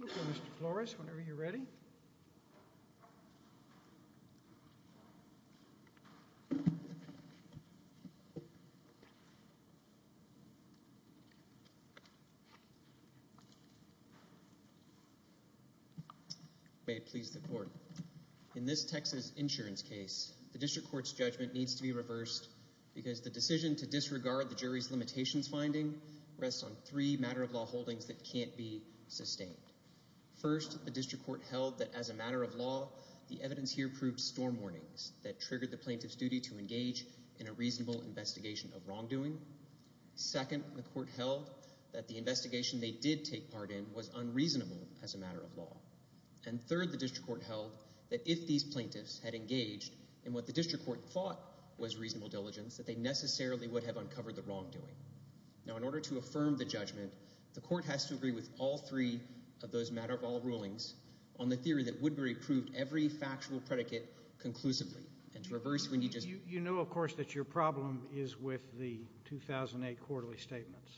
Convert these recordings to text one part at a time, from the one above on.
will call Mr. Flores whenever you are ready. In this Texas insurance case, the district court's judgment needs to be reversed because the decision to disregard the jury's limitations finding rests on three matter-of-law holdings that can't be sustained. First, the district court held that as a matter of law, the evidence here proved storm warnings that triggered the plaintiff's duty to engage in a reasonable investigation of wrongdoing. Second, the court held that the investigation they did take part in was unreasonable as a matter of law. And third, the district court held that if these plaintiffs had engaged in what the district court thought was reasonable diligence, that they necessarily would have uncovered the wrongdoing. Now, in order to affirm the judgment, the court has to agree with all three of those matter-of-law rulings on the theory that Woodbury proved every factual predicate conclusively. You know, of course, that your problem is with the 2008 quarterly statements.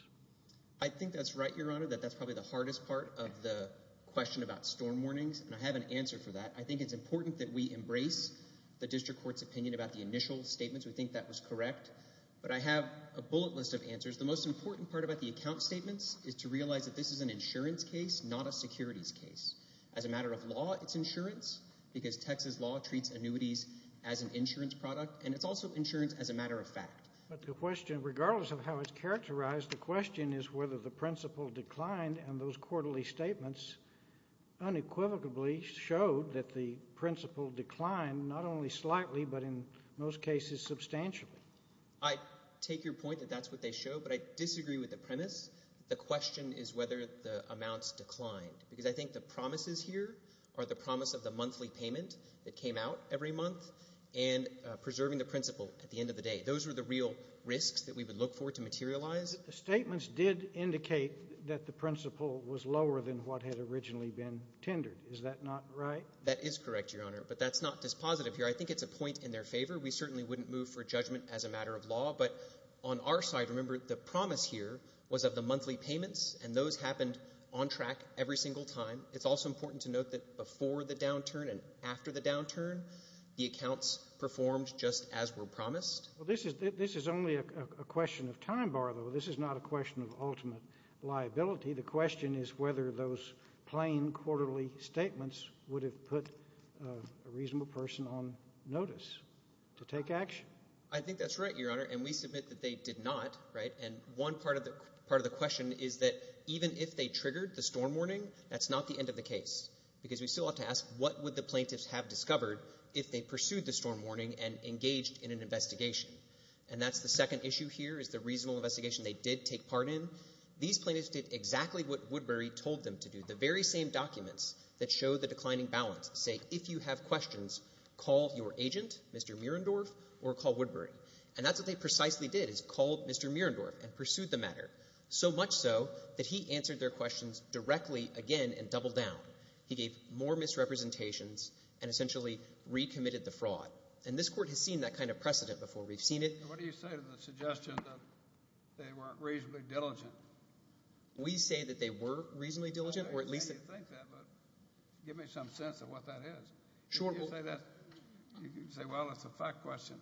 I think that's right, Your Honor, that that's probably the hardest part of the question about storm warnings, and I have an answer for that. I think it's important that we embrace the district court's opinion about the initial statements. We think that was correct. But I have a bullet list of answers. The most important part about the account statements is to realize that this is an insurance case, not a securities case. As a matter of law, it's insurance, because Texas law treats annuities as an insurance product, and it's also insurance as a matter of fact. But the question, regardless of how it's characterized, the question is whether the principal declined and those quarterly statements unequivocally showed that the principal declined, not only slightly but in most cases substantially. I take your point that that's what they showed, but I disagree with the premise. The question is whether the amounts declined, because I think the promises here are the promise of the monthly payment that came out every month and preserving the principal at the end of the day. Those were the real risks that we would look for to materialize. The statements did indicate that the principal was lower than what had originally been tendered. Is that not right? That is correct, Your Honor, but that's not dispositive here. I think it's a point in their favor. We certainly wouldn't move for judgment as a matter of law, but on our side, remember, the promise here was of the monthly payments, and those happened on track every single time. It's also important to note that before the downturn and after the downturn, the accounts performed just as were promised. Well, this is only a question of time bar, though. This is not a question of ultimate liability. The question is whether those plain quarterly statements would have put a reasonable person on notice to take action. I think that's right, Your Honor, and we submit that they did not, right? And one part of the question is that even if they triggered the storm warning, that's not the end of the case, because we still have to ask what would the plaintiffs have discovered if they pursued the storm warning and engaged in an investigation. And that's the second issue here, is the reasonable investigation they did take part in. These plaintiffs did exactly what Woodbury told them to do, the very same documents that show the declining balance, say, if you have questions, call your agent, Mr. Mierendorf, or call Woodbury. And that's what they precisely did, is called Mr. Mierendorf and pursued the matter, so much so that he answered their questions directly again and doubled down. He gave more misrepresentations and essentially recommitted the fraud. And this Court has seen that kind of precedent before. We've seen it. And what do you say to the suggestion that they weren't reasonably diligent? We say that they were reasonably diligent, or at least— I don't think you think that, but give me some sense of what that is. If you say that, you can say, well, it's a fact question.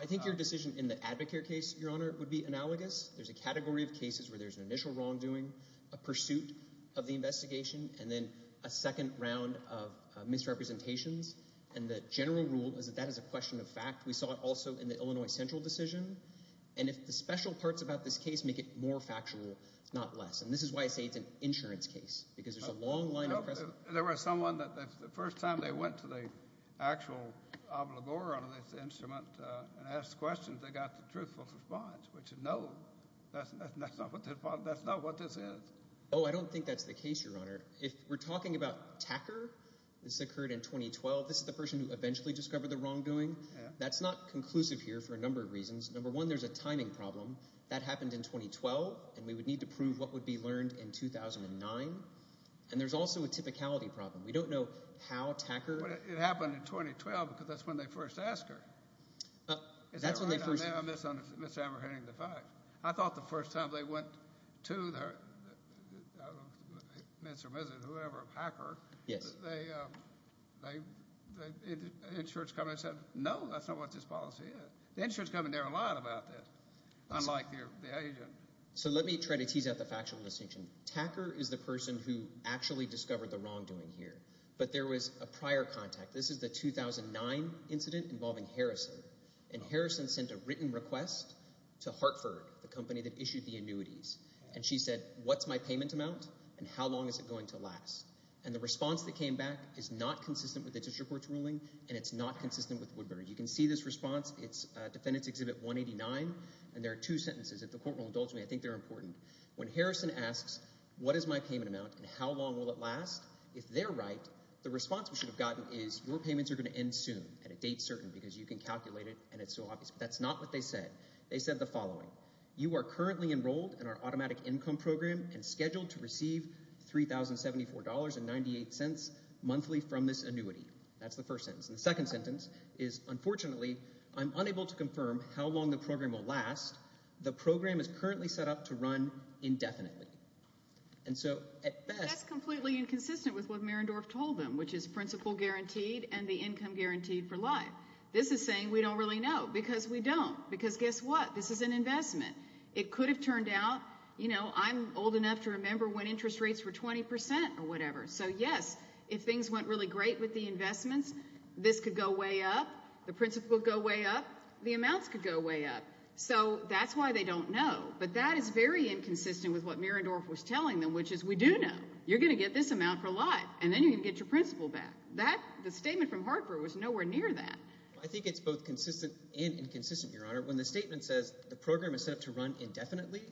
I think your decision in the Advocare case, Your Honor, would be analogous. There's a category of cases where there's an initial wrongdoing, a pursuit of the investigation, and then a second round of misrepresentations. And the general rule is that that is a question of fact. We saw it also in the Illinois Central decision. And if the special parts about this case make it more factual, not less. And this is why I say it's an insurance case, because there's a long line of precedent. There was someone that the first time they went to the actual obligor on this instrument and asked questions, they got the truthful response, which is no, that's not what this is. Oh, I don't think that's the case, Your Honor. If we're talking about Tacker, this occurred in 2012. This is the person who eventually discovered the wrongdoing. That's not conclusive here for a number of reasons. Number one, there's a timing problem. That happened in 2012, and we would need to prove what would be learned in 2009. And there's also a typicality problem. We don't know how Tacker. It happened in 2012, because that's when they first asked her. That's when they first. I'm misapprehending the fact. I thought the first time they went to whoever, Hacker, the insurance company said, no, that's not what this policy is. The insurance company never lied about this, unlike the agent. So let me try to tease out the factual distinction. Tacker is the person who actually discovered the wrongdoing here. But there was a prior contact. This is the 2009 incident involving Harrison. And Harrison sent a written request to Hartford, the company that issued the annuities. And she said, what's my payment amount, and how long is it going to last? And the response that came back is not consistent with the district court's ruling, and it's not consistent with Woodburn. You can see this response. It's Defendant's Exhibit 189, and there are two sentences. If the court will indulge me, I think they're important. When Harrison asks, what is my payment amount, and how long will it last? If they're right, the response we should have gotten is, your payments are going to end soon, and it dates certain, because you can calculate it, and it's so obvious. But that's not what they said. They said the following. You are currently enrolled in our automatic income program and scheduled to receive $3,074.98 monthly from this annuity. That's the first sentence. And the second sentence is, unfortunately, I'm unable to confirm how long the program will last. The program is currently set up to run indefinitely. And so, at best- That's completely inconsistent with what Marendorff told them, which is principal guaranteed and the income guaranteed for life. This is saying we don't really know, because we don't. Because guess what? This is an investment. It could have turned out, you know, I'm old enough to remember when interest rates were 20% or whatever. So, yes, if things went really great with the investments, this could go way up. The principal would go way up. The amounts could go way up. So, that's why they don't know. But that is very inconsistent with what Marendorff was telling them, which is we do know. You're going to get this amount for life. And then you're going to get your principal back. That, the statement from Hartford was nowhere near that. I think it's both consistent and inconsistent, Your Honor. When the statement says the program is set up to run indefinitely,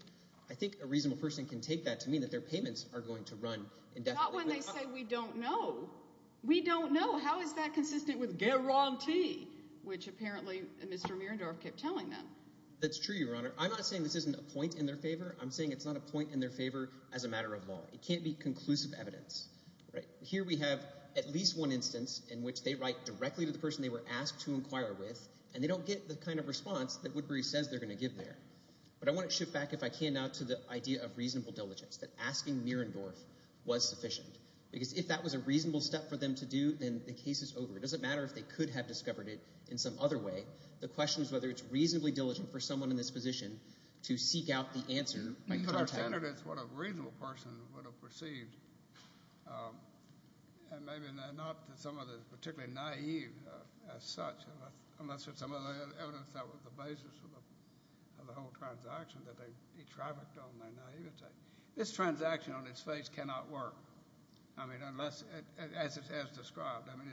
I think a reasonable person can take that to mean that their payments are going to run indefinitely. Not when they say we don't know. We don't know. How is that consistent with guarantee? Which apparently Mr. Marendorff kept telling them. That's true, Your Honor. I'm not saying this isn't a point in their favor. I'm saying it's not a point in their favor as a matter of law. It can't be conclusive evidence, right? Here we have at least one instance in which they write directly to the person they were asked to inquire with, and they don't get the kind of response that Woodbury says they're going to give there. But I want to shift back, if I can now, to the idea of reasonable diligence. That asking Marendorff was sufficient. Because if that was a reasonable step for them to do, then the case is over. It doesn't matter if they could have discovered it in some other way. The question is whether it's reasonably diligent for someone in this position to seek out the answer by contact. You could have considered it as what a reasonable person would have perceived. And maybe not that someone is particularly naive as such, unless there's some other evidence that was the basis of the whole transaction that they trafficked on their naivety. This transaction on its face cannot work. I mean, unless, as described, I mean,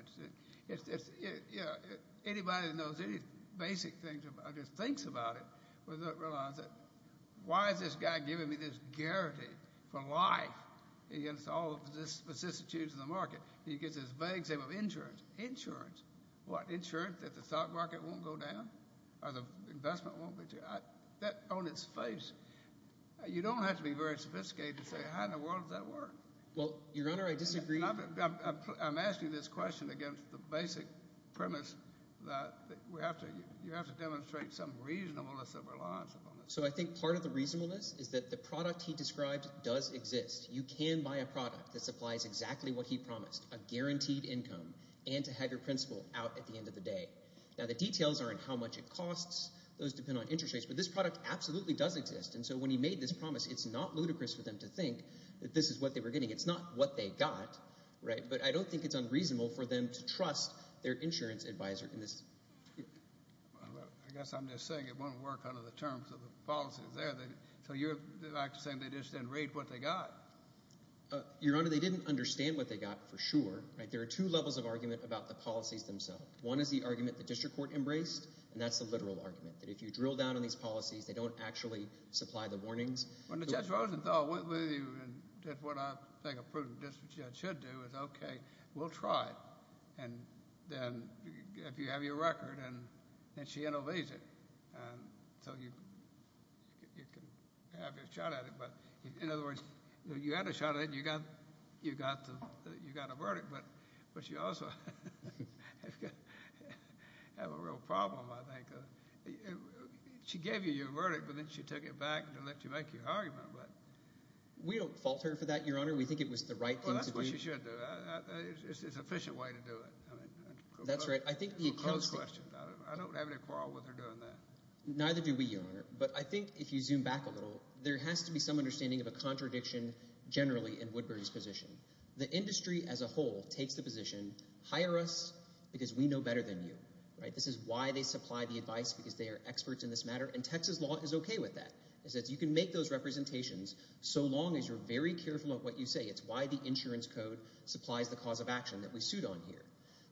it's, you know, anybody that knows any basic things or just thinks about it will realize that why is this guy giving me this guarantee for life against all of the vicissitudes of the market? He gives this vague example of insurance. Insurance. What, insurance that the stock market won't go down? Or the investment won't go down? That on its face, you don't have to be very sophisticated to say how in the world does that work? Well, Your Honor, I disagree. I'm asking this question against the basic premise that we have to, you have to demonstrate some reasonableness of reliance upon it. So I think part of the reasonableness is that the product he described does exist. You can buy a product that supplies exactly what he promised, a guaranteed income, and to have your principal out at the end of the day. Now, the details are in how much it costs. Those depend on interest rates. But this product absolutely does exist. And so when he made this promise, it's not ludicrous for them to think that this is what they were getting. It's not what they got, right? But I don't think it's unreasonable for them to trust their insurance advisor in this. I guess I'm just saying it won't work under the terms of the policies there. So you're actually saying they just didn't rate what they got? Your Honor, they didn't understand what they got for sure, right? There are two levels of argument about the policies themselves. One is the argument the district court embraced, and that's the literal argument, that if you drill down on these policies, they don't actually supply the warnings. When Judge Rosenthal went with you, and that's what I think a prudent district judge should do, is, OK, we'll try it. And then if you have your record, then she intervenes it. So you can have your shot at it. But in other words, you had a shot at it, and you got a verdict. But she also had a real problem, I think. She gave you your verdict, but then she took it back to let you make your argument. We don't fault her for that, Your Honor. We think it was the right thing to do. Well, that's what she should do. It's an efficient way to do it. That's right. I think the account statement... I don't have any quarrel with her doing that. Neither do we, Your Honor. But I think if you zoom back a little, there has to be some understanding of a contradiction generally in Woodbury's position. The industry as a whole takes the position, hire us because we know better than you, right? This is why they supply the advice, because they are experts in this matter. And Texas law is okay with that. It says you can make those representations so long as you're very careful of what you say. It's why the insurance code supplies the cause of action that we suit on here.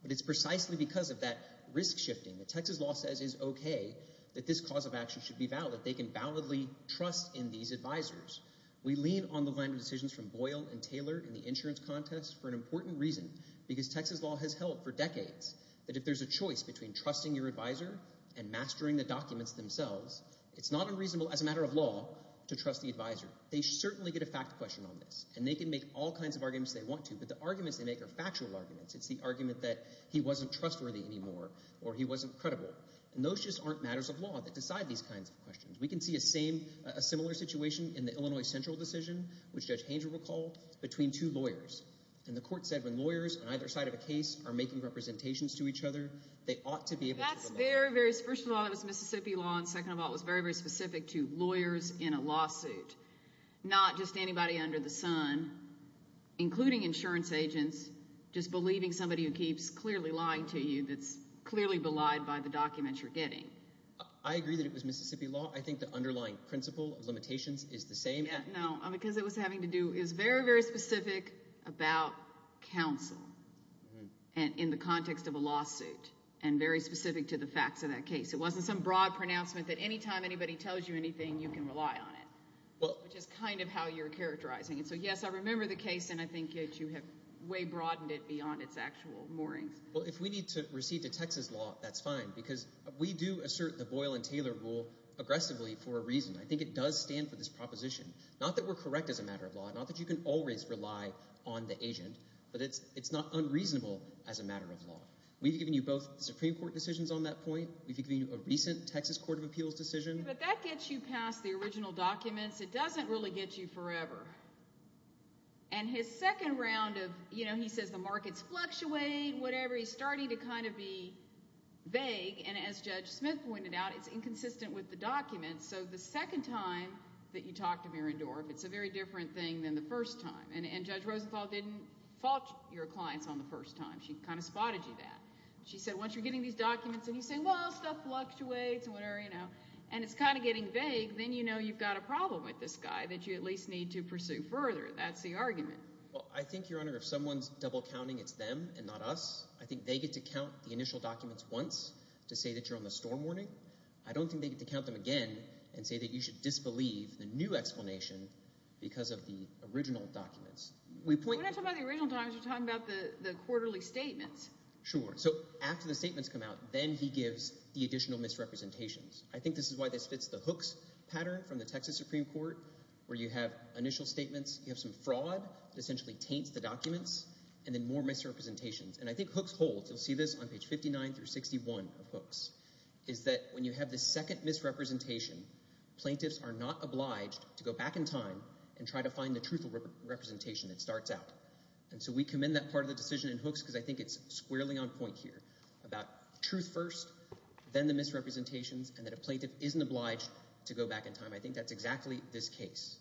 But it's precisely because of that risk shifting that Texas law says is okay that this cause of action should be valid. They can validly trust in these advisors. We lean on the line of decisions from Boyle and Taylor in the insurance contest for an important reason, because Texas law has held for decades that if there's a choice between trusting your advisor and mastering the documents themselves, it's not unreasonable as a matter of law to trust the advisor. They certainly get a fact question on this. And they can make all kinds of arguments they want to, but the arguments they make are factual arguments. It's the argument that he wasn't trustworthy anymore or he wasn't credible. And those just aren't matters of law that decide these kinds of questions. We can see a similar situation in the Illinois Central decision, which Judge Haines will recall, between two lawyers. And the court said when lawyers on either side of a case are making representations to each other, they ought to be able to... That's very, very... First of all, it was Mississippi law. And second of all, it was very, very specific to lawyers in a lawsuit, not just anybody under the sun, including insurance agents, just believing somebody who keeps clearly lying to you that's clearly belied by the documents you're getting. I agree that it was Mississippi law. I think the underlying principle of limitations is the same. No, because it was having to do... It was very, very specific about counsel. And in the context of a lawsuit. And very specific to the facts of that case. It wasn't some broad pronouncement that anytime anybody tells you anything, you can rely on it, which is kind of how you're characterizing it. So, yes, I remember the case, and I think that you have way broadened it beyond its actual moorings. Well, if we need to recede to Texas law, that's fine, because we do assert the Boyle and Taylor rule aggressively for a reason. I think it does stand for this proposition. Not that we're correct as a matter of law. Not that you can always rely on the agent. But it's not unreasonable as a matter of law. We've given you both Supreme Court decisions on that point. We've given you a recent Texas Court of Appeals decision. But that gets you past the original documents. It doesn't really get you forever. And his second round of, you know, he says the markets fluctuate, whatever. He's starting to kind of be vague. And as Judge Smith pointed out, it's inconsistent with the documents. So the second time that you talk to Mirandorf, it's a very different thing than the first time. And Judge Rosenthal didn't fault your clients on the first time. She kind of spotted you there. She said, once you're getting these documents and you say, well, stuff fluctuates and whatever, you know, and it's kind of getting vague, then you know you've got a problem with this guy that you at least need to pursue further. That's the argument. Well, I think, Your Honor, if someone's double counting, it's them and not us. I think they get to count the initial documents once to say that you're on the storm warning. I don't think they get to count them again and say that you should disbelieve the new explanation because of the original documents. We point... We're not talking about the original documents. We're talking about the quarterly statements. Sure. So after the statements come out, then he gives the additional misrepresentations. I think this is why this fits the Hooks pattern from the Texas Supreme Court, where you have initial statements, you have some fraud that essentially taints the documents, and then more misrepresentations. And I think Hooks holds, you'll see this on page 59 through 61 of Hooks, is that when you have the second misrepresentation, plaintiffs are not obliged to go back in time and try to find the truthful representation that starts out. And so we commend that part of the decision in Hooks because I think it's squarely on point here about truth first, then the misrepresentations, and that a plaintiff isn't obliged to go back in time. I think that's exactly this case.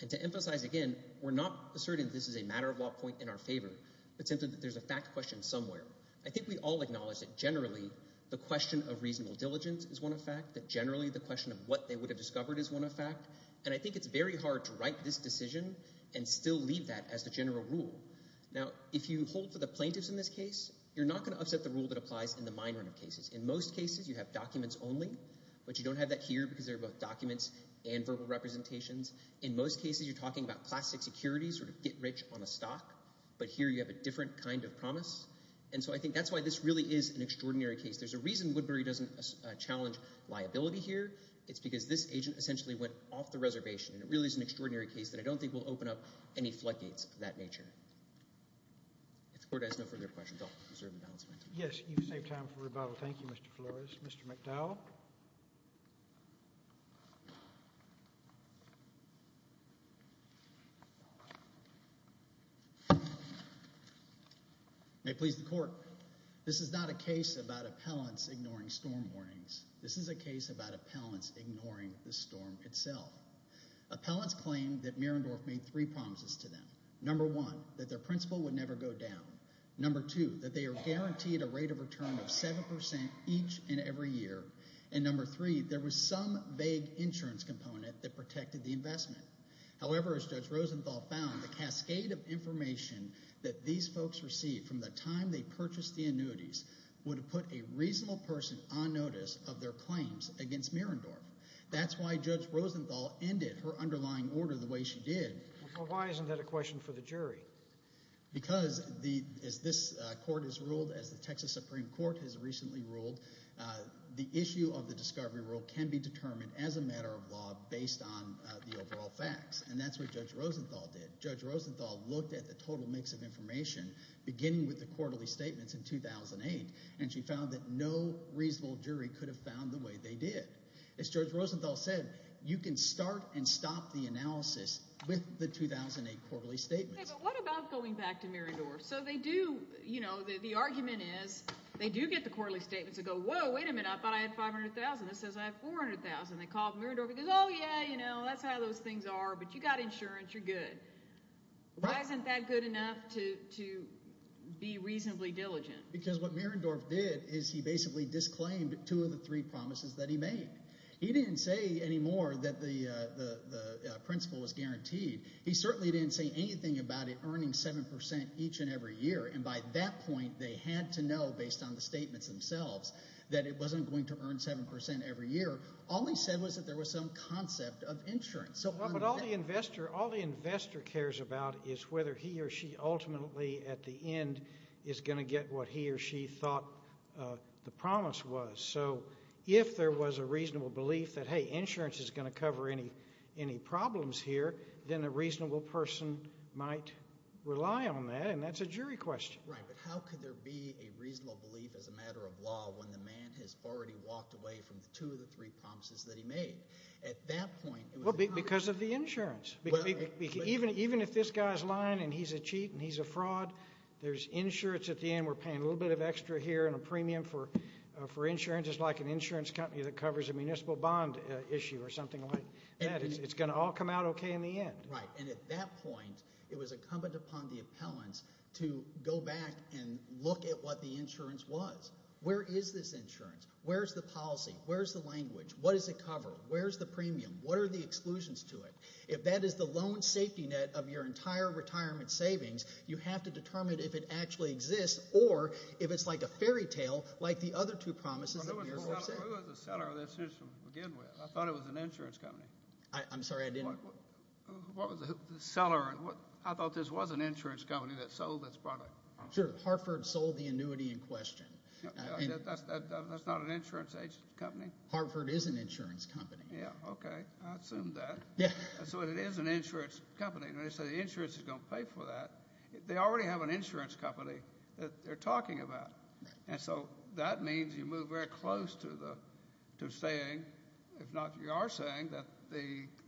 And to emphasize again, we're not asserting that this is a matter-of-law point in our favor, but simply that there's a fact question somewhere. I think we all acknowledge that generally the question of reasonable diligence is one effect, that generally the question of what they would have discovered is one effect. And I think it's very hard to write this decision and still leave that as the general rule. Now, if you hold for the plaintiffs in this case, you're not gonna upset the rule that applies in the minor cases. In most cases, you have documents only, but you don't have that here because they're both documents and verbal representations. In most cases, you're talking about classic security, sort of get rich on a stock, but here you have a different kind of promise. And so I think that's why this really is an extraordinary case. There's a reason Woodbury doesn't challenge liability here. It's because this agent essentially went off the reservation and it really is an extraordinary case that I don't think will open up any floodgates of that nature. If the court has no further questions, I'll reserve the balance of my time. Yes, you've saved time for rebuttal. Thank you, Mr. Flores. Mr. McDowell. May it please the court. This is not a case about appellants ignoring storm warnings. This is a case about appellants ignoring the storm itself. Appellants claim that Mirandorf made three promises to them. Number one, that their principal would never go down. Number two, that they are guaranteed a rate of return of 7% each and every year. And number three, there was some vague insurance component that protected the investment. However, as Judge Rosenthal found, the cascade of information that these folks received from the time they purchased the annuities would have put a reasonable person on notice of their claims against Mirandorf. That's why Judge Rosenthal ended her underlying order the way she did. Well, why isn't that a question for the jury? Because as this court has ruled, as the Texas Supreme Court has recently ruled, the issue of the discovery rule can be determined as a matter of law based on the overall facts. And that's what Judge Rosenthal did. Judge Rosenthal looked at the total mix of information, beginning with the quarterly statements in 2008, and she found that no reasonable jury could have found the way they did. As Judge Rosenthal said, you can start and stop the analysis with the 2008 quarterly statements. But what about going back to Mirandorf? So they do, you know, the argument is, they do get the quarterly statements that go, whoa, wait a minute, I thought I had 500,000. This says I have 400,000. They call up Mirandorf, he goes, oh, yeah, you know, that's how those things are, but you got insurance, you're good. Why isn't that good enough to be reasonably diligent? Because what Mirandorf did is he basically disclaimed two of the three promises that he made. He didn't say anymore that the principle was guaranteed. He certainly didn't say anything about it earning 7% each and every year. And by that point, they had to know, based on the statements themselves, that it wasn't going to earn 7% every year. All he said was that there was some concept of insurance. But all the investor cares about is whether he or she ultimately, at the end, is going to get what he or she thought the promise was. So if there was a reasonable belief that, hey, insurance is going to cover any problems here, then a reasonable person might rely on that, and that's a jury question. Right, but how could there be a reasonable belief as a matter of law when the man has already walked away from the two of the three promises that he made? At that point, it was incumbent. Because of the insurance. Even if this guy's lying and he's a cheat and he's a fraud, there's insurance at the end. We're paying a little bit of extra here and a premium for insurance. It's like an insurance company that covers a municipal bond issue or something like that. It's going to all come out OK in the end. Right, and at that point, it was incumbent upon the appellants to go back and look at what the insurance was. Where is this insurance? Where's the policy? Where's the language? What does it cover? Where's the premium? What are the exclusions to it? If that is the loan safety net of your entire retirement savings, you have to determine if it actually exists or if it's like a fairy tale like the other two promises that you're saying. Who was the seller of this insurance to begin with? I thought it was an insurance company. I'm sorry, I didn't. What was the seller? I thought this was an insurance company that sold this product. Sure, Hartford sold the annuity in question. That's not an insurance agency company? Hartford is an insurance company. Yeah, OK, I assumed that. So it is an insurance company, and they say the insurance is going to pay for that. They already have an insurance company that they're talking about. And so that means you move very close to saying, if not you are saying, that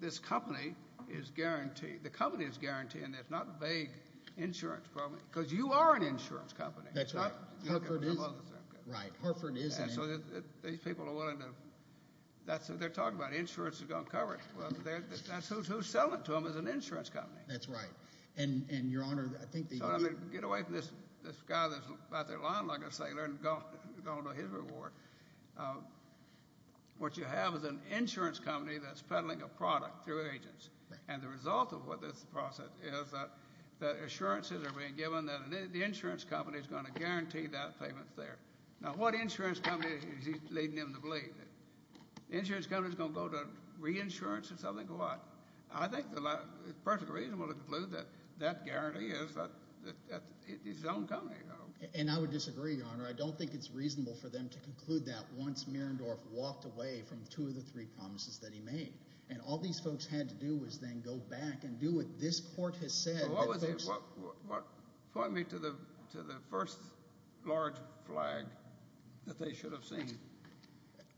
this company is guaranteed. The company is guaranteed, and it's not a vague insurance problem, because you are an insurance company. That's right. Right, Hartford is an insurance company. So these people are willing to, that's what they're talking about. Insurance is going to cover it. That's who's selling to them is an insurance company. That's right. And your honor, I think that you need to get away from this guy that's out there lying like a sailor and going to his reward. What you have is an insurance company that's peddling a product through agents. And the result of what this process is that assurances are being given that the insurance company is going to guarantee that payment there. Now, what insurance company is he leading them to believe? The insurance company is going to go to reinsurance or something to what? I think it's perfectly reasonable to conclude that that guarantee is his own company. And I would disagree, your honor. I don't think it's reasonable for them to conclude that once Mirendorf walked away from two of the three promises that he made. And all these folks had to do was then go back and do what this court has said. What was it? Point me to the first large flag that they should have seen.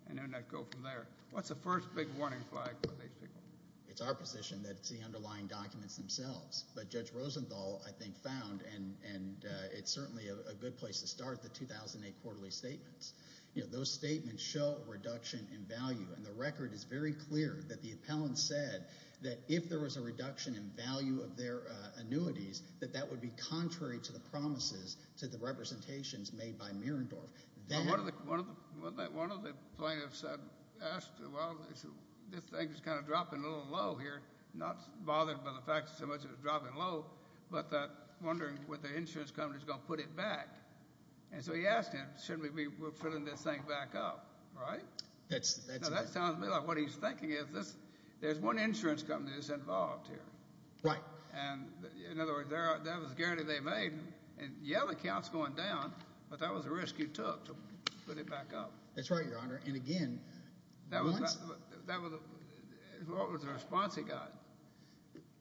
And then I'd go from there. What's the first big warning flag for these people? It's our position that it's the underlying documents themselves. But Judge Rosenthal, I think, found, and it's certainly a good place to start, the 2008 quarterly statements. Those statements show reduction in value. And the record is very clear that the appellant said that if there was a reduction in value of their annuities, that that would be contrary to the promises to the representations made by Mirendorf. One of the plaintiffs asked, well, this thing is kind of dropping a little low here. Not bothered by the fact that so much is dropping low, but wondering whether the insurance company is going to put it back. And so he asked him, shouldn't we be filling this thing back up, right? That sounds to me like what he's thinking is, there's one insurance company that's involved here. And in other words, that was a guarantee they made. And yeah, the count's going down, but that was a risk you took to put it back up. That's right, Your Honor. And again, that was a response he got.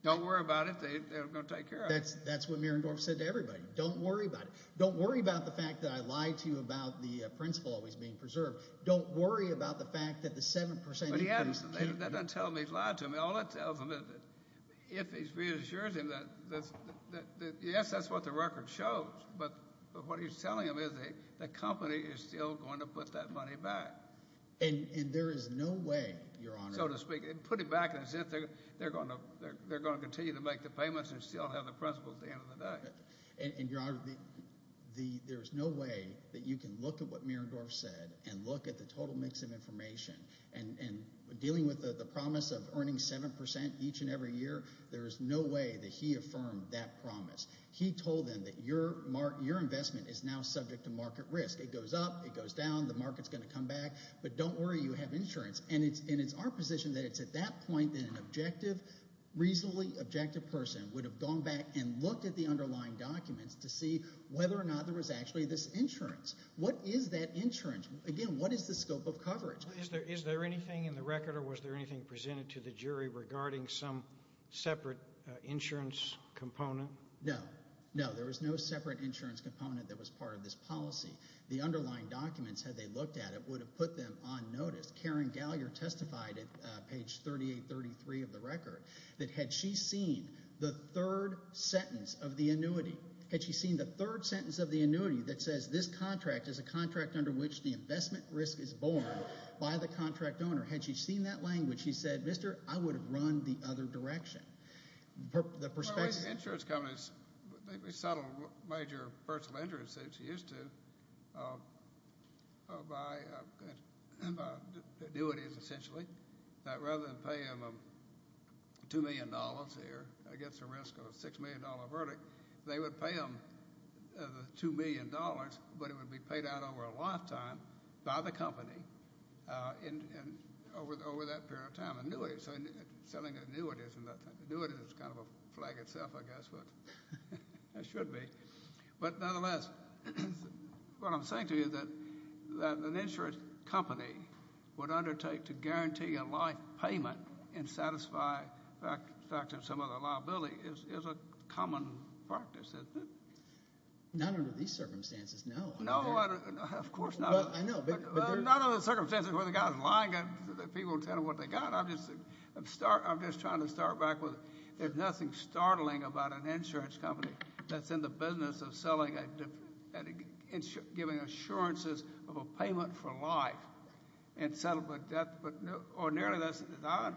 Don't worry about it. They're going to take care of it. That's what Mirendorf said to everybody. Don't worry about it. Don't worry about the fact that I lied to you about the principal always being preserved. Don't worry about the fact that the 7% increase. That doesn't tell me he lied to me. All it tells him is that if he reassures him that, yes, that's what the record shows. But what he's telling him is that the company is still going to put that money back. And there is no way, Your Honor. So to speak, put it back as if they're going to continue to make the payments and still have the principal at the end of the day. And Your Honor, there is no way that you can look at what Mirendorf said and look at the total mix of information. And dealing with the promise of earning 7% each and every year, there is no way that he affirmed that promise. He told them that your investment is now subject to market risk. It goes up. It goes down. The market's going to come back. But don't worry. You have insurance. And it's our position that it's at that point that an objective, reasonably objective person would have gone back and looked at the underlying documents to see whether or not there was actually this insurance. What is that insurance? Again, what is the scope of coverage? Is there anything in the record, or was there anything presented to the jury regarding some separate insurance component? No. No, there was no separate insurance component that was part of this policy. The underlying documents, had they looked at it, would have put them on notice. Karen Gallier testified at page 3833 of the record that had she seen the third sentence of the annuity, says this contract is a contract under which the investment risk is borne by the contract owner. Had she seen that language, she said, mister, I would have run the other direction. The perspective. Insurance companies, they settle major personal injuries that you're used to by annuities, essentially. That rather than pay them $2 million here against the risk of a $6 million verdict, they would pay them the $2 million, but it would be paid out over a lifetime by the company over that period of time. Annuities, selling annuities, annuities is kind of a flag itself, I guess, but it should be. But nonetheless, what I'm saying to you is that an insurance company would undertake to guarantee a life payment and satisfy some of the liability is a common practice, isn't it? Not under these circumstances, no. No, of course not. Not under the circumstances where the guy's lying and people tell him what they got. I'm just trying to start back with there's nothing startling about an insurance company that's in the business of giving assurances of a payment for life and settlement debt. But ordinarily, as I've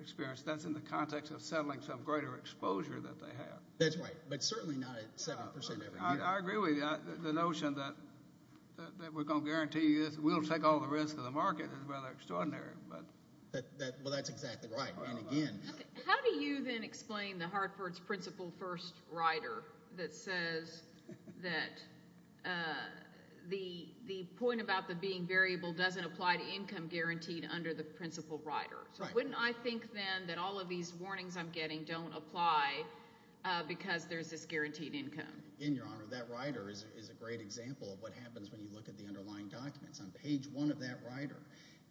experienced, that's in the context of settling some greater exposure that they have. That's right, but certainly not at 7% every year. I agree with you. The notion that we're going to guarantee you this, we'll take all the risk of the market is rather extraordinary. Well, that's exactly right. How do you then explain the Hartford's principal first rider that says that the point about the being variable doesn't apply to income guaranteed under the principal rider? So wouldn't I think then that all of these warnings I'm getting don't apply because there's this guaranteed income? In your honor, that rider is a great example of what happens when you look at the underlying documents. On page one of that rider,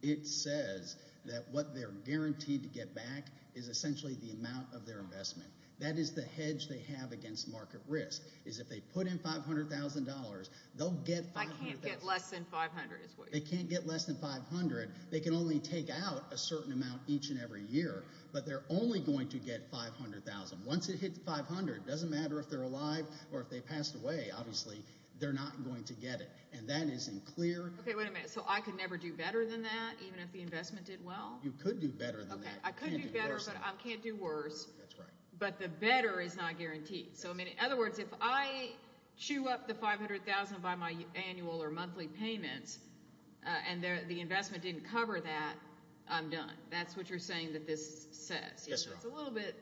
it says that what they're guaranteed to get back is essentially the amount of their investment. That is the hedge they have against market risk, is if they put in $500,000, they'll get $500,000. I can't get less than $500,000 is what you're saying. They can't get less than $500,000. They can only take out a certain amount each and every year, but they're only going to get $500,000. Once it hits $500,000, it doesn't matter if they're alive or if they passed away, obviously, they're not going to get it. And that isn't clear. OK, wait a minute. So I could never do better than that, even if the investment did well? You could do better than that. I could do better, but I can't do worse. But the better is not guaranteed. So in other words, if I chew up the $500,000 by my annual or monthly payments, and the investment didn't cover that, I'm done. That's what you're saying that this says. It's a little bit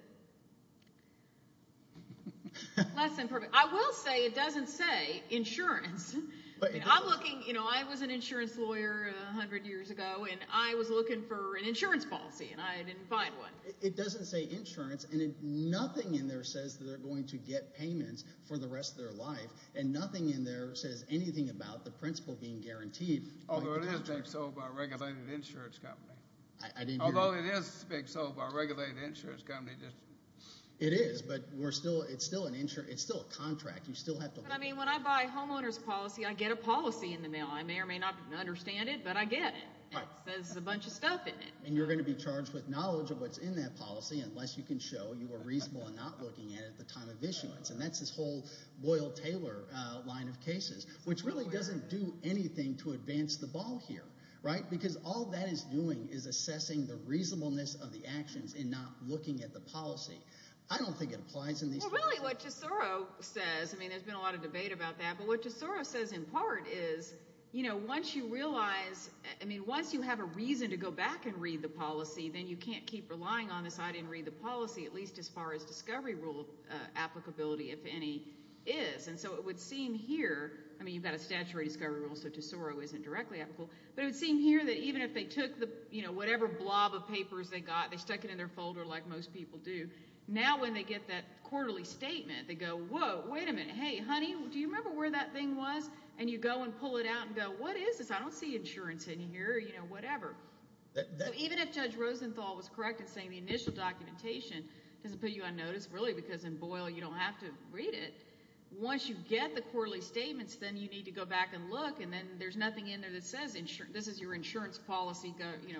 less than perfect. I will say it doesn't say insurance. I was an insurance lawyer 100 years ago, and I was looking for an insurance policy, and I didn't find one. It doesn't say insurance, and nothing in there says that they're going to get payments for the rest of their life. And nothing in there says anything about the principle being guaranteed. Although it is big sold by a regulated insurance company. Although it is big sold by a regulated insurance company. It is, but it's still a contract. You still have to look. But I mean, when I buy a homeowner's policy, I get a policy in the mail. I may or may not understand it, but I get it. It says a bunch of stuff in it. And you're going to be charged with knowledge of what's in that policy, unless you can show you were reasonable in not looking at it at the time of issuance. And that's this whole Boyle-Taylor line of cases, which really doesn't do anything to advance the ball here, right? Because all that is doing is assessing the reasonableness of the actions in not looking at the policy. I don't think it applies in these cases. Well, really, what Tesoro says, I mean, there's been a lot of debate about that. But what Tesoro says in part is, once you realize, I mean, once you have a reason to go back and read the policy, then you can't keep relying on this, I didn't read the policy, at least as far as discovery rule applicability, if any, is. And so it would seem here, I mean, you've got a statutory discovery rule, so Tesoro isn't directly applicable. But it would seem here that even if they took whatever blob of papers they got, they stuck it in their folder like most people do, now when they get that quarterly statement, they go, whoa, wait a minute, hey, honey, do you remember where that thing was? And you go and pull it out and go, what is this? I don't see insurance in here, you know, whatever. Even if Judge Rosenthal was correct in saying the initial documentation doesn't put you on notice, really, because in Boyle, you don't have to read it, once you get the quarterly statements, then you need to go back and look, and then there's nothing in there that says this is your insurance policy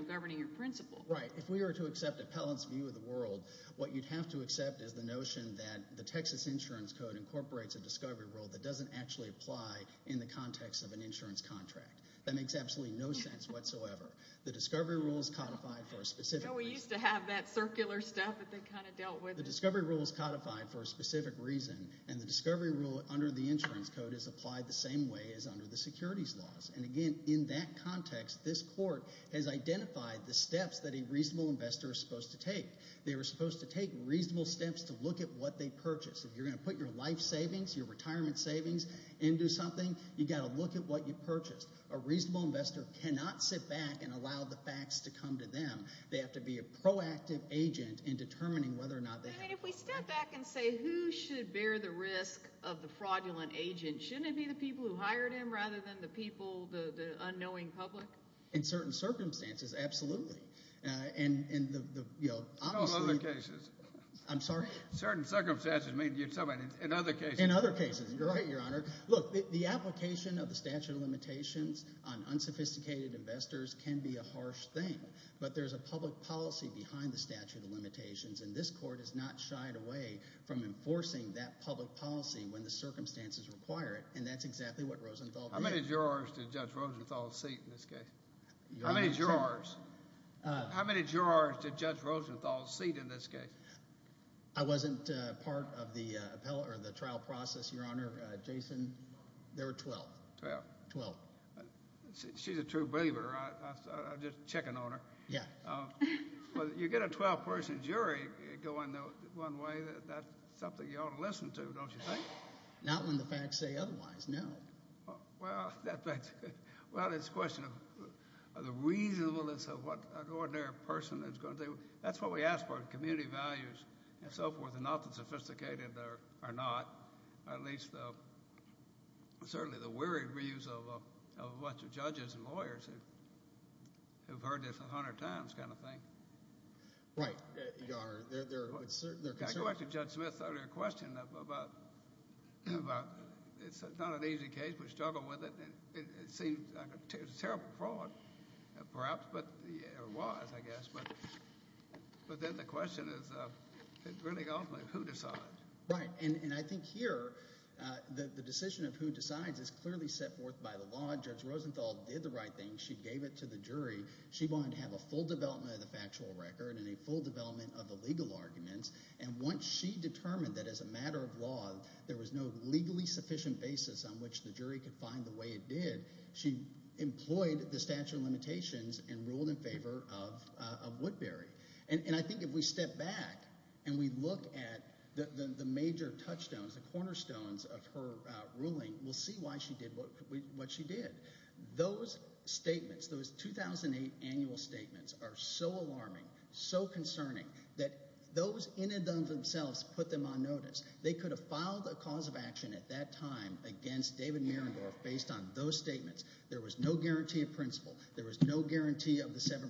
governing your principle. Right, if we were to accept appellant's view of the world, what you'd have to accept is the notion that the Texas Insurance Code incorporates a discovery rule that doesn't actually apply in the context of an insurance contract. That makes absolutely no sense whatsoever. The discovery rule is codified for a specific reason. We used to have that circular stuff that they kind of dealt with. The discovery rule is codified for a specific reason, and the discovery rule under the insurance code is applied the same way as under the securities laws. And again, in that context, this court has identified the steps that a reasonable investor is supposed to take. They were supposed to take reasonable steps to look at what they purchased. If you're gonna put your life savings, your retirement savings into something, you gotta look at what you purchased. A reasonable investor cannot sit back and allow the facts to come to them. They have to be a proactive agent in determining whether or not they have. And if we step back and say who should bear the risk of the fraudulent agent, shouldn't it be the people who hired him rather than the people, the unknowing public? In certain circumstances, absolutely. And in the, you know, honestly- In all other cases. I'm sorry? Certain circumstances, I mean, you're talking about in other cases. In other cases, you're right, Your Honor. Look, the application of the statute of limitations on unsophisticated investors can be a harsh thing, but there's a public policy behind the statute of limitations, and this court has not shied away from enforcing that public policy when the circumstances require it, and that's exactly what Rosenthal did. How many jurors did Judge Rosenthal seat in this case? How many jurors? How many jurors did Judge Rosenthal seat in this case? I wasn't part of the trial process, Your Honor. Jason, there were 12. 12. 12. She's a true believer, I'm just checking on her. Yeah. Well, you get a 12-person jury going one way, that's something you ought to listen to, don't you think? Not when the facts say otherwise, no. Well, that's good. Well, it's a question of the reasonableness of what an ordinary person is going to do. That's what we ask for, community values and so forth, and not the sophisticated or not, or at least certainly the weary views of a bunch of judges and lawyers who've heard this 100 times kind of thing. Right, Your Honor. Can I go back to Judge Smith's earlier question about it's not an easy case, we struggle with it, and it seems like a terrible fraud, perhaps, or was, I guess, but then the question is, it's really ultimately who decides. Right, and I think here, the decision of who decides is clearly set forth by the law. Judge Rosenthal did the right thing. She gave it to the jury. She wanted to have a full development of the factual record and a full development of the legal arguments, and once she determined that as a matter of law, there was no legally sufficient basis on which the jury could find the way it did, she employed the statute of limitations and ruled in favor of Woodbury. And I think if we step back and we look at the major touchstones, the cornerstones of her ruling, we'll see why she did what she did. Those statements, those 2008 annual statements are so alarming, so concerning, that those in and of themselves put them on notice. They could have filed a cause of action at that time against David Mierendorf based on those statements. There was no guarantee of principle. There was no guarantee of the 7%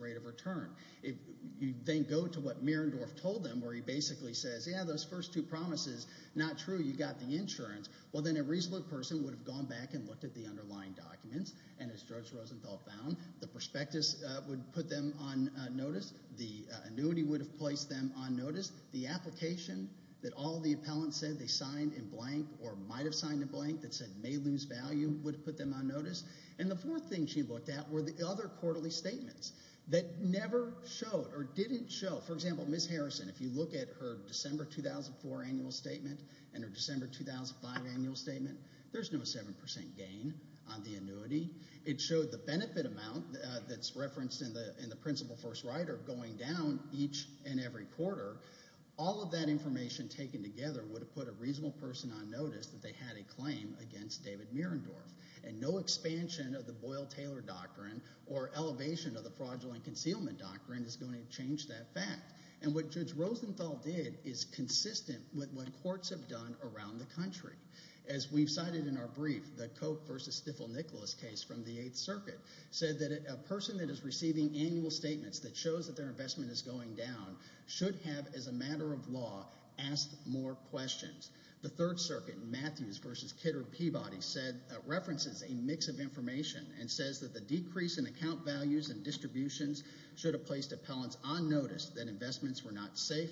rate of return. If you then go to what Mierendorf told them, where he basically says, yeah, those first two promises, not true, you got the insurance, well then a reasonable person would have gone back and looked at the underlying documents, and as Judge Rosenthal found, the prospectus would put them on notice, the annuity would have placed them on notice, the application that all the appellants said they signed in blank or might have signed in blank that said may lose value would have put them on notice. And the fourth thing she looked at were the other quarterly statements that never showed or didn't show. For example, Ms. Harrison, if you look at her December 2004 annual statement and her December 2005 annual statement, there's no 7% gain on the annuity. It showed the benefit amount that's referenced in the principle first rider going down each and every quarter. All of that information taken together would have put a reasonable person on notice that they had a claim against David Mierendorf. And no expansion of the Boyle-Taylor Doctrine or elevation of the Fraudulent Concealment Doctrine is going to change that fact. And what Judge Rosenthal did is consistent with what courts have done around the country. As we've cited in our brief, the Cope v. Stifel-Nicholas case from the Eighth Circuit said that a person that is receiving annual statements that shows that their investment is going down should have, as a matter of law, asked more questions. The Third Circuit, Matthews v. Kidder of Peabody, references a mix of information and says that the decrease in account values and distributions should have placed appellants on notice that investments were not safe,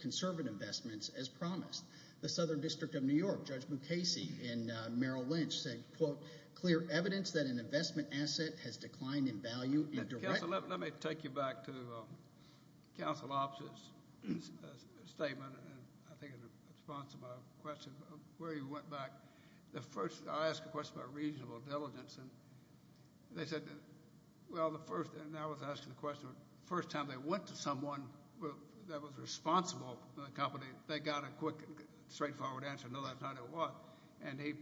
conservative investments, as promised. The Southern District of New York, Judge Mukasey and Merrill Lynch said, quote, clear evidence that an investment asset has declined in value and direct... Let me take you back to Counsel Opp's statement and I think in response to my question where he went back. The first, I asked a question about reasonable diligence and they said, well, the first, and I was asking the question, first time they went to someone that was responsible for the company, they got a quick, straightforward answer, no, that's not it, what? And he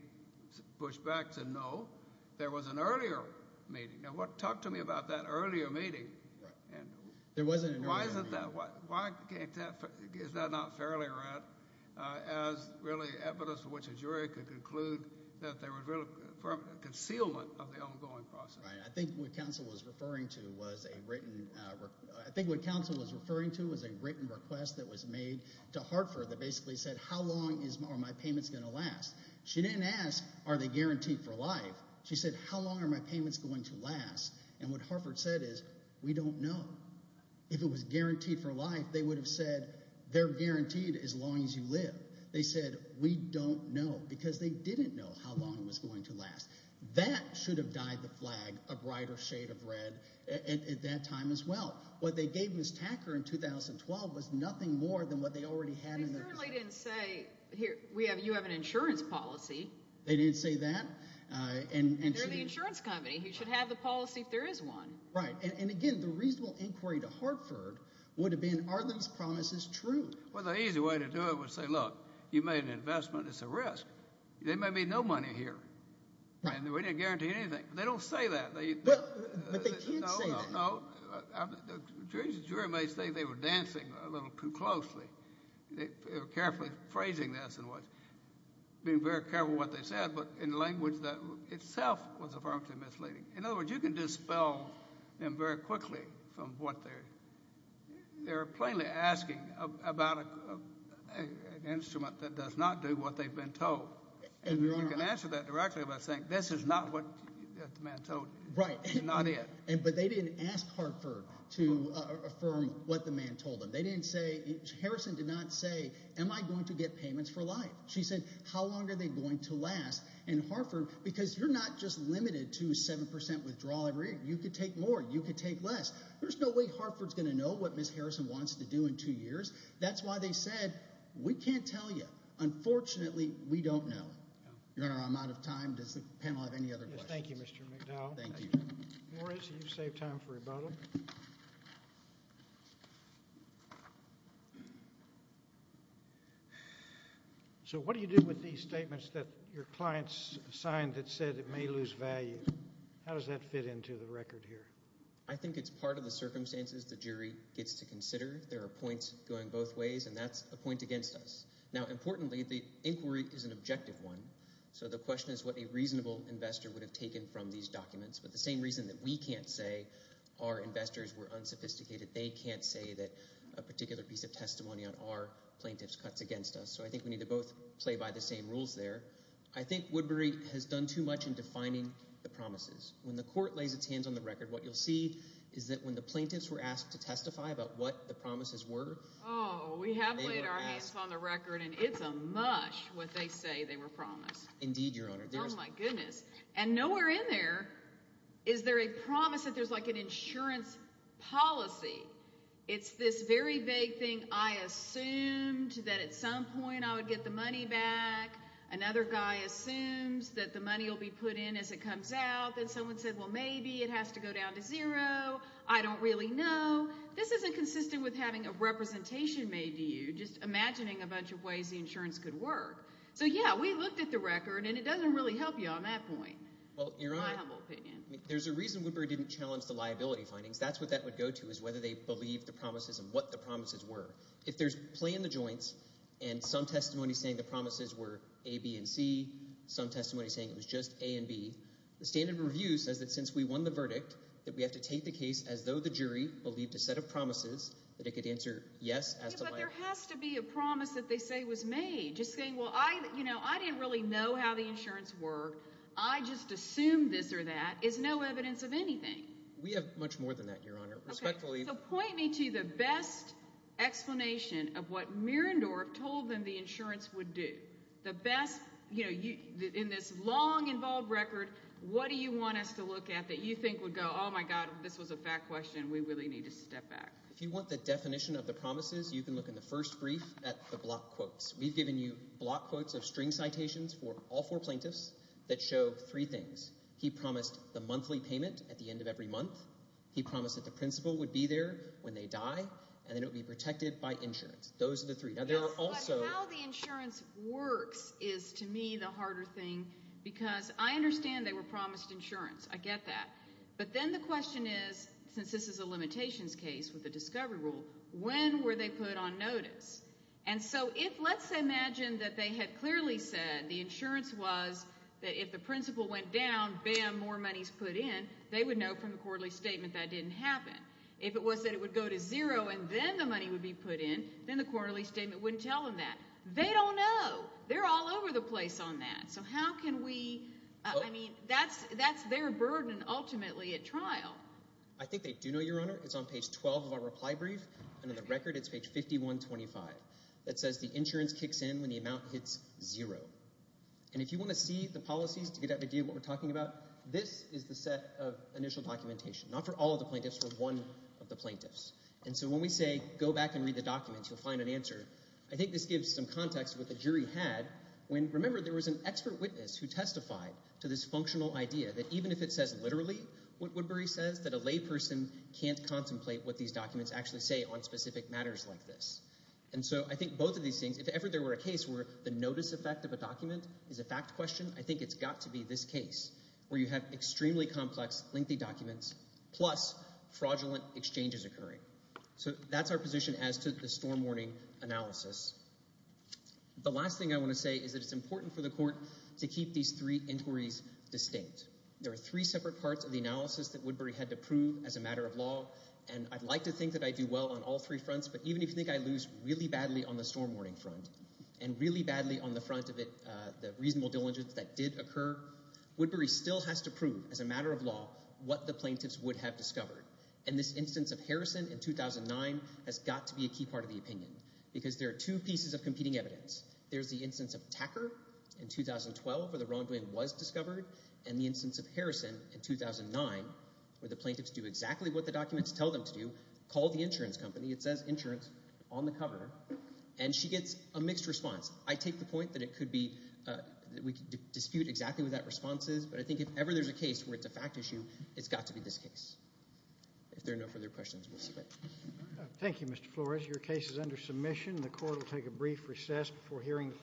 pushed back to no. There was an earlier meeting. Now, talk to me about that earlier meeting. Why is it that, is that not fairly read as really evidence for which a jury could conclude that there was really a concealment of the ongoing process? Right, I think what Counsel was referring to was a written, I think what Counsel was referring to was a written request that was made to Hartford that basically said, how long are my payments gonna last? She didn't ask, are they guaranteed for life? She said, how long are my payments going to last? And what Hartford said is, we don't know. If it was guaranteed for life, they would have said, they're guaranteed as long as you live. They said, we don't know, because they didn't know how long it was going to last. That should have dyed the flag a brighter shade of red at that time as well. What they gave Ms. Tacker in 2012 was nothing more than what they already had in their possession. They clearly didn't say, here, you have an insurance policy. They didn't say that. And they're the insurance company. You should have the policy if there is one. Right, and again, the reasonable inquiry to Hartford would have been, are those promises true? Well, the easy way to do it would say, look, you made an investment, it's a risk. There may be no money here. And we didn't guarantee anything. They don't say that. But they can say that. No, no, no. The jury may say they were dancing a little too closely. They were carefully phrasing this and being very careful what they said, but in language that itself was affirmatively misleading. In other words, you can dispel them very quickly from what they're, they're plainly asking about an instrument that does not do what they've been told. And you can answer that directly by saying, this is not what the man told, this is not it. But they didn't ask Hartford to affirm what the man told them. They didn't say, Harrison did not say, am I going to get payments for life? She said, how long are they going to last in Hartford? Because you're not just limited to 7% withdrawal every year. You could take more, you could take less. There's no way Hartford's gonna know what Ms. Harrison wants to do in two years. That's why they said, we can't tell you. Unfortunately, we don't know. Your Honor, I'm out of time. Does the panel have any other questions? Thank you, Mr. McDowell. Thank you. Morris, you've saved time for rebuttal. So what do you do with these statements that your clients signed that said it may lose value? How does that fit into the record here? I think it's part of the circumstances the jury gets to consider. There are points going both ways, and that's a point against us. Now, importantly, the inquiry is an objective one. So the question is what a reasonable investor would have taken from these documents. But the same reason that we can't say our investors were unsophisticated, they can't say that a particular piece of testimony on our plaintiff's cuts against us. So I think we need to both play by the same rules there. I think Woodbury has done too much in defining the promises. When the court lays its hands on the record, what you'll see is that when the plaintiffs were asked to testify about what the promises were. Oh, we have laid our hands on the record, and it's a mush what they say they were promised. Indeed, Your Honor. Oh my goodness. And nowhere in there is there a promise that there's like an insurance policy. It's this very vague thing, I assumed that at some point I would get the money back. Another guy assumes that the money will be put in as it comes out. Then someone said, well, maybe it has to go down to zero. I don't really know. This isn't consistent with having a representation made to you, just imagining a bunch of ways the insurance could work. So yeah, we looked at the record, and it doesn't really help you on that point. Well, Your Honor. In my humble opinion. There's a reason Woodbury didn't challenge the liability findings. That's what that would go to, is whether they believed the promises and what the promises were. If there's play in the joints, and some testimony saying the promises were A, B, and C, some testimony saying it was just A and B, the standard review says that since we won the verdict, that we have to take the case as though the jury believed a set of promises that it could answer yes as to liability. Yeah, but there has to be a promise that they say was made. Just saying, well, I didn't really know how the insurance worked. I just assumed this or that is no evidence of anything. We have much more than that, Your Honor. Respectfully. So point me to the best explanation of what Mirandorf told them the insurance would do. The best, you know, in this long involved record, what do you want us to look at that you think would go, oh my God, this was a fat question. We really need to step back. If you want the definition of the promises, you can look in the first brief at the block quotes. We've given you block quotes of string citations for all four plaintiffs that show three things. He promised the monthly payment at the end of every month. He promised that the principal would be there when they die and that it would be protected by insurance. Those are the three. Now there are also- But how the insurance works is, to me, the harder thing because I understand they were promised insurance. I get that. But then the question is, since this is a limitations case with a discovery rule, when were they put on notice? And so if, let's imagine that they had clearly said that the insurance was that if the principal went down, bam, more money's put in, they would know from the quarterly statement that didn't happen. If it was that it would go to zero and then the money would be put in, then the quarterly statement wouldn't tell them that. They don't know. They're all over the place on that. So how can we, I mean, that's their burden ultimately at trial. I think they do know, Your Honor. It's on page 12 of our reply brief. And in the record, it's page 5125. That says the insurance kicks in when the amount hits zero. And if you want to see the policies to get an idea of what we're talking about, this is the set of initial documentation. Not for all of the plaintiffs, for one of the plaintiffs. And so when we say go back and read the documents, you'll find an answer. I think this gives some context of what the jury had when, remember, there was an expert witness who testified to this functional idea that even if it says literally what Woodbury says, that a layperson can't contemplate what these documents actually say on specific matters like this. And so I think both of these things, if ever there were a case where the notice effect of a document is a fact question, I think it's got to be this case where you have extremely complex, lengthy documents plus fraudulent exchanges occurring. So that's our position as to the storm warning analysis. The last thing I want to say is that it's important for the court to keep these three inquiries distinct. There are three separate parts of the analysis that Woodbury had to prove as a matter of law. And I'd like to think that I do well on all three fronts, but even if you think I lose really badly on the storm warning front and really badly on the front of it, the reasonable diligence that did occur, Woodbury still has to prove as a matter of law what the plaintiffs would have discovered. And this instance of Harrison in 2009 has got to be a key part of the opinion because there are two pieces of competing evidence. There's the instance of Tacker in 2012 where the wrongdoing was discovered and the instance of Harrison in 2009 where the plaintiffs do exactly what the documents tell them to do, call the insurance company. It says insurance on the cover. And she gets a mixed response. I take the point that it could be, that we could dispute exactly what that response is, but I think if ever there's a case where it's a fact issue, it's got to be this case. If there are no further questions, we'll submit. Thank you, Mr. Flores. Your case is under submission. The court will take a brief recess before hearing the.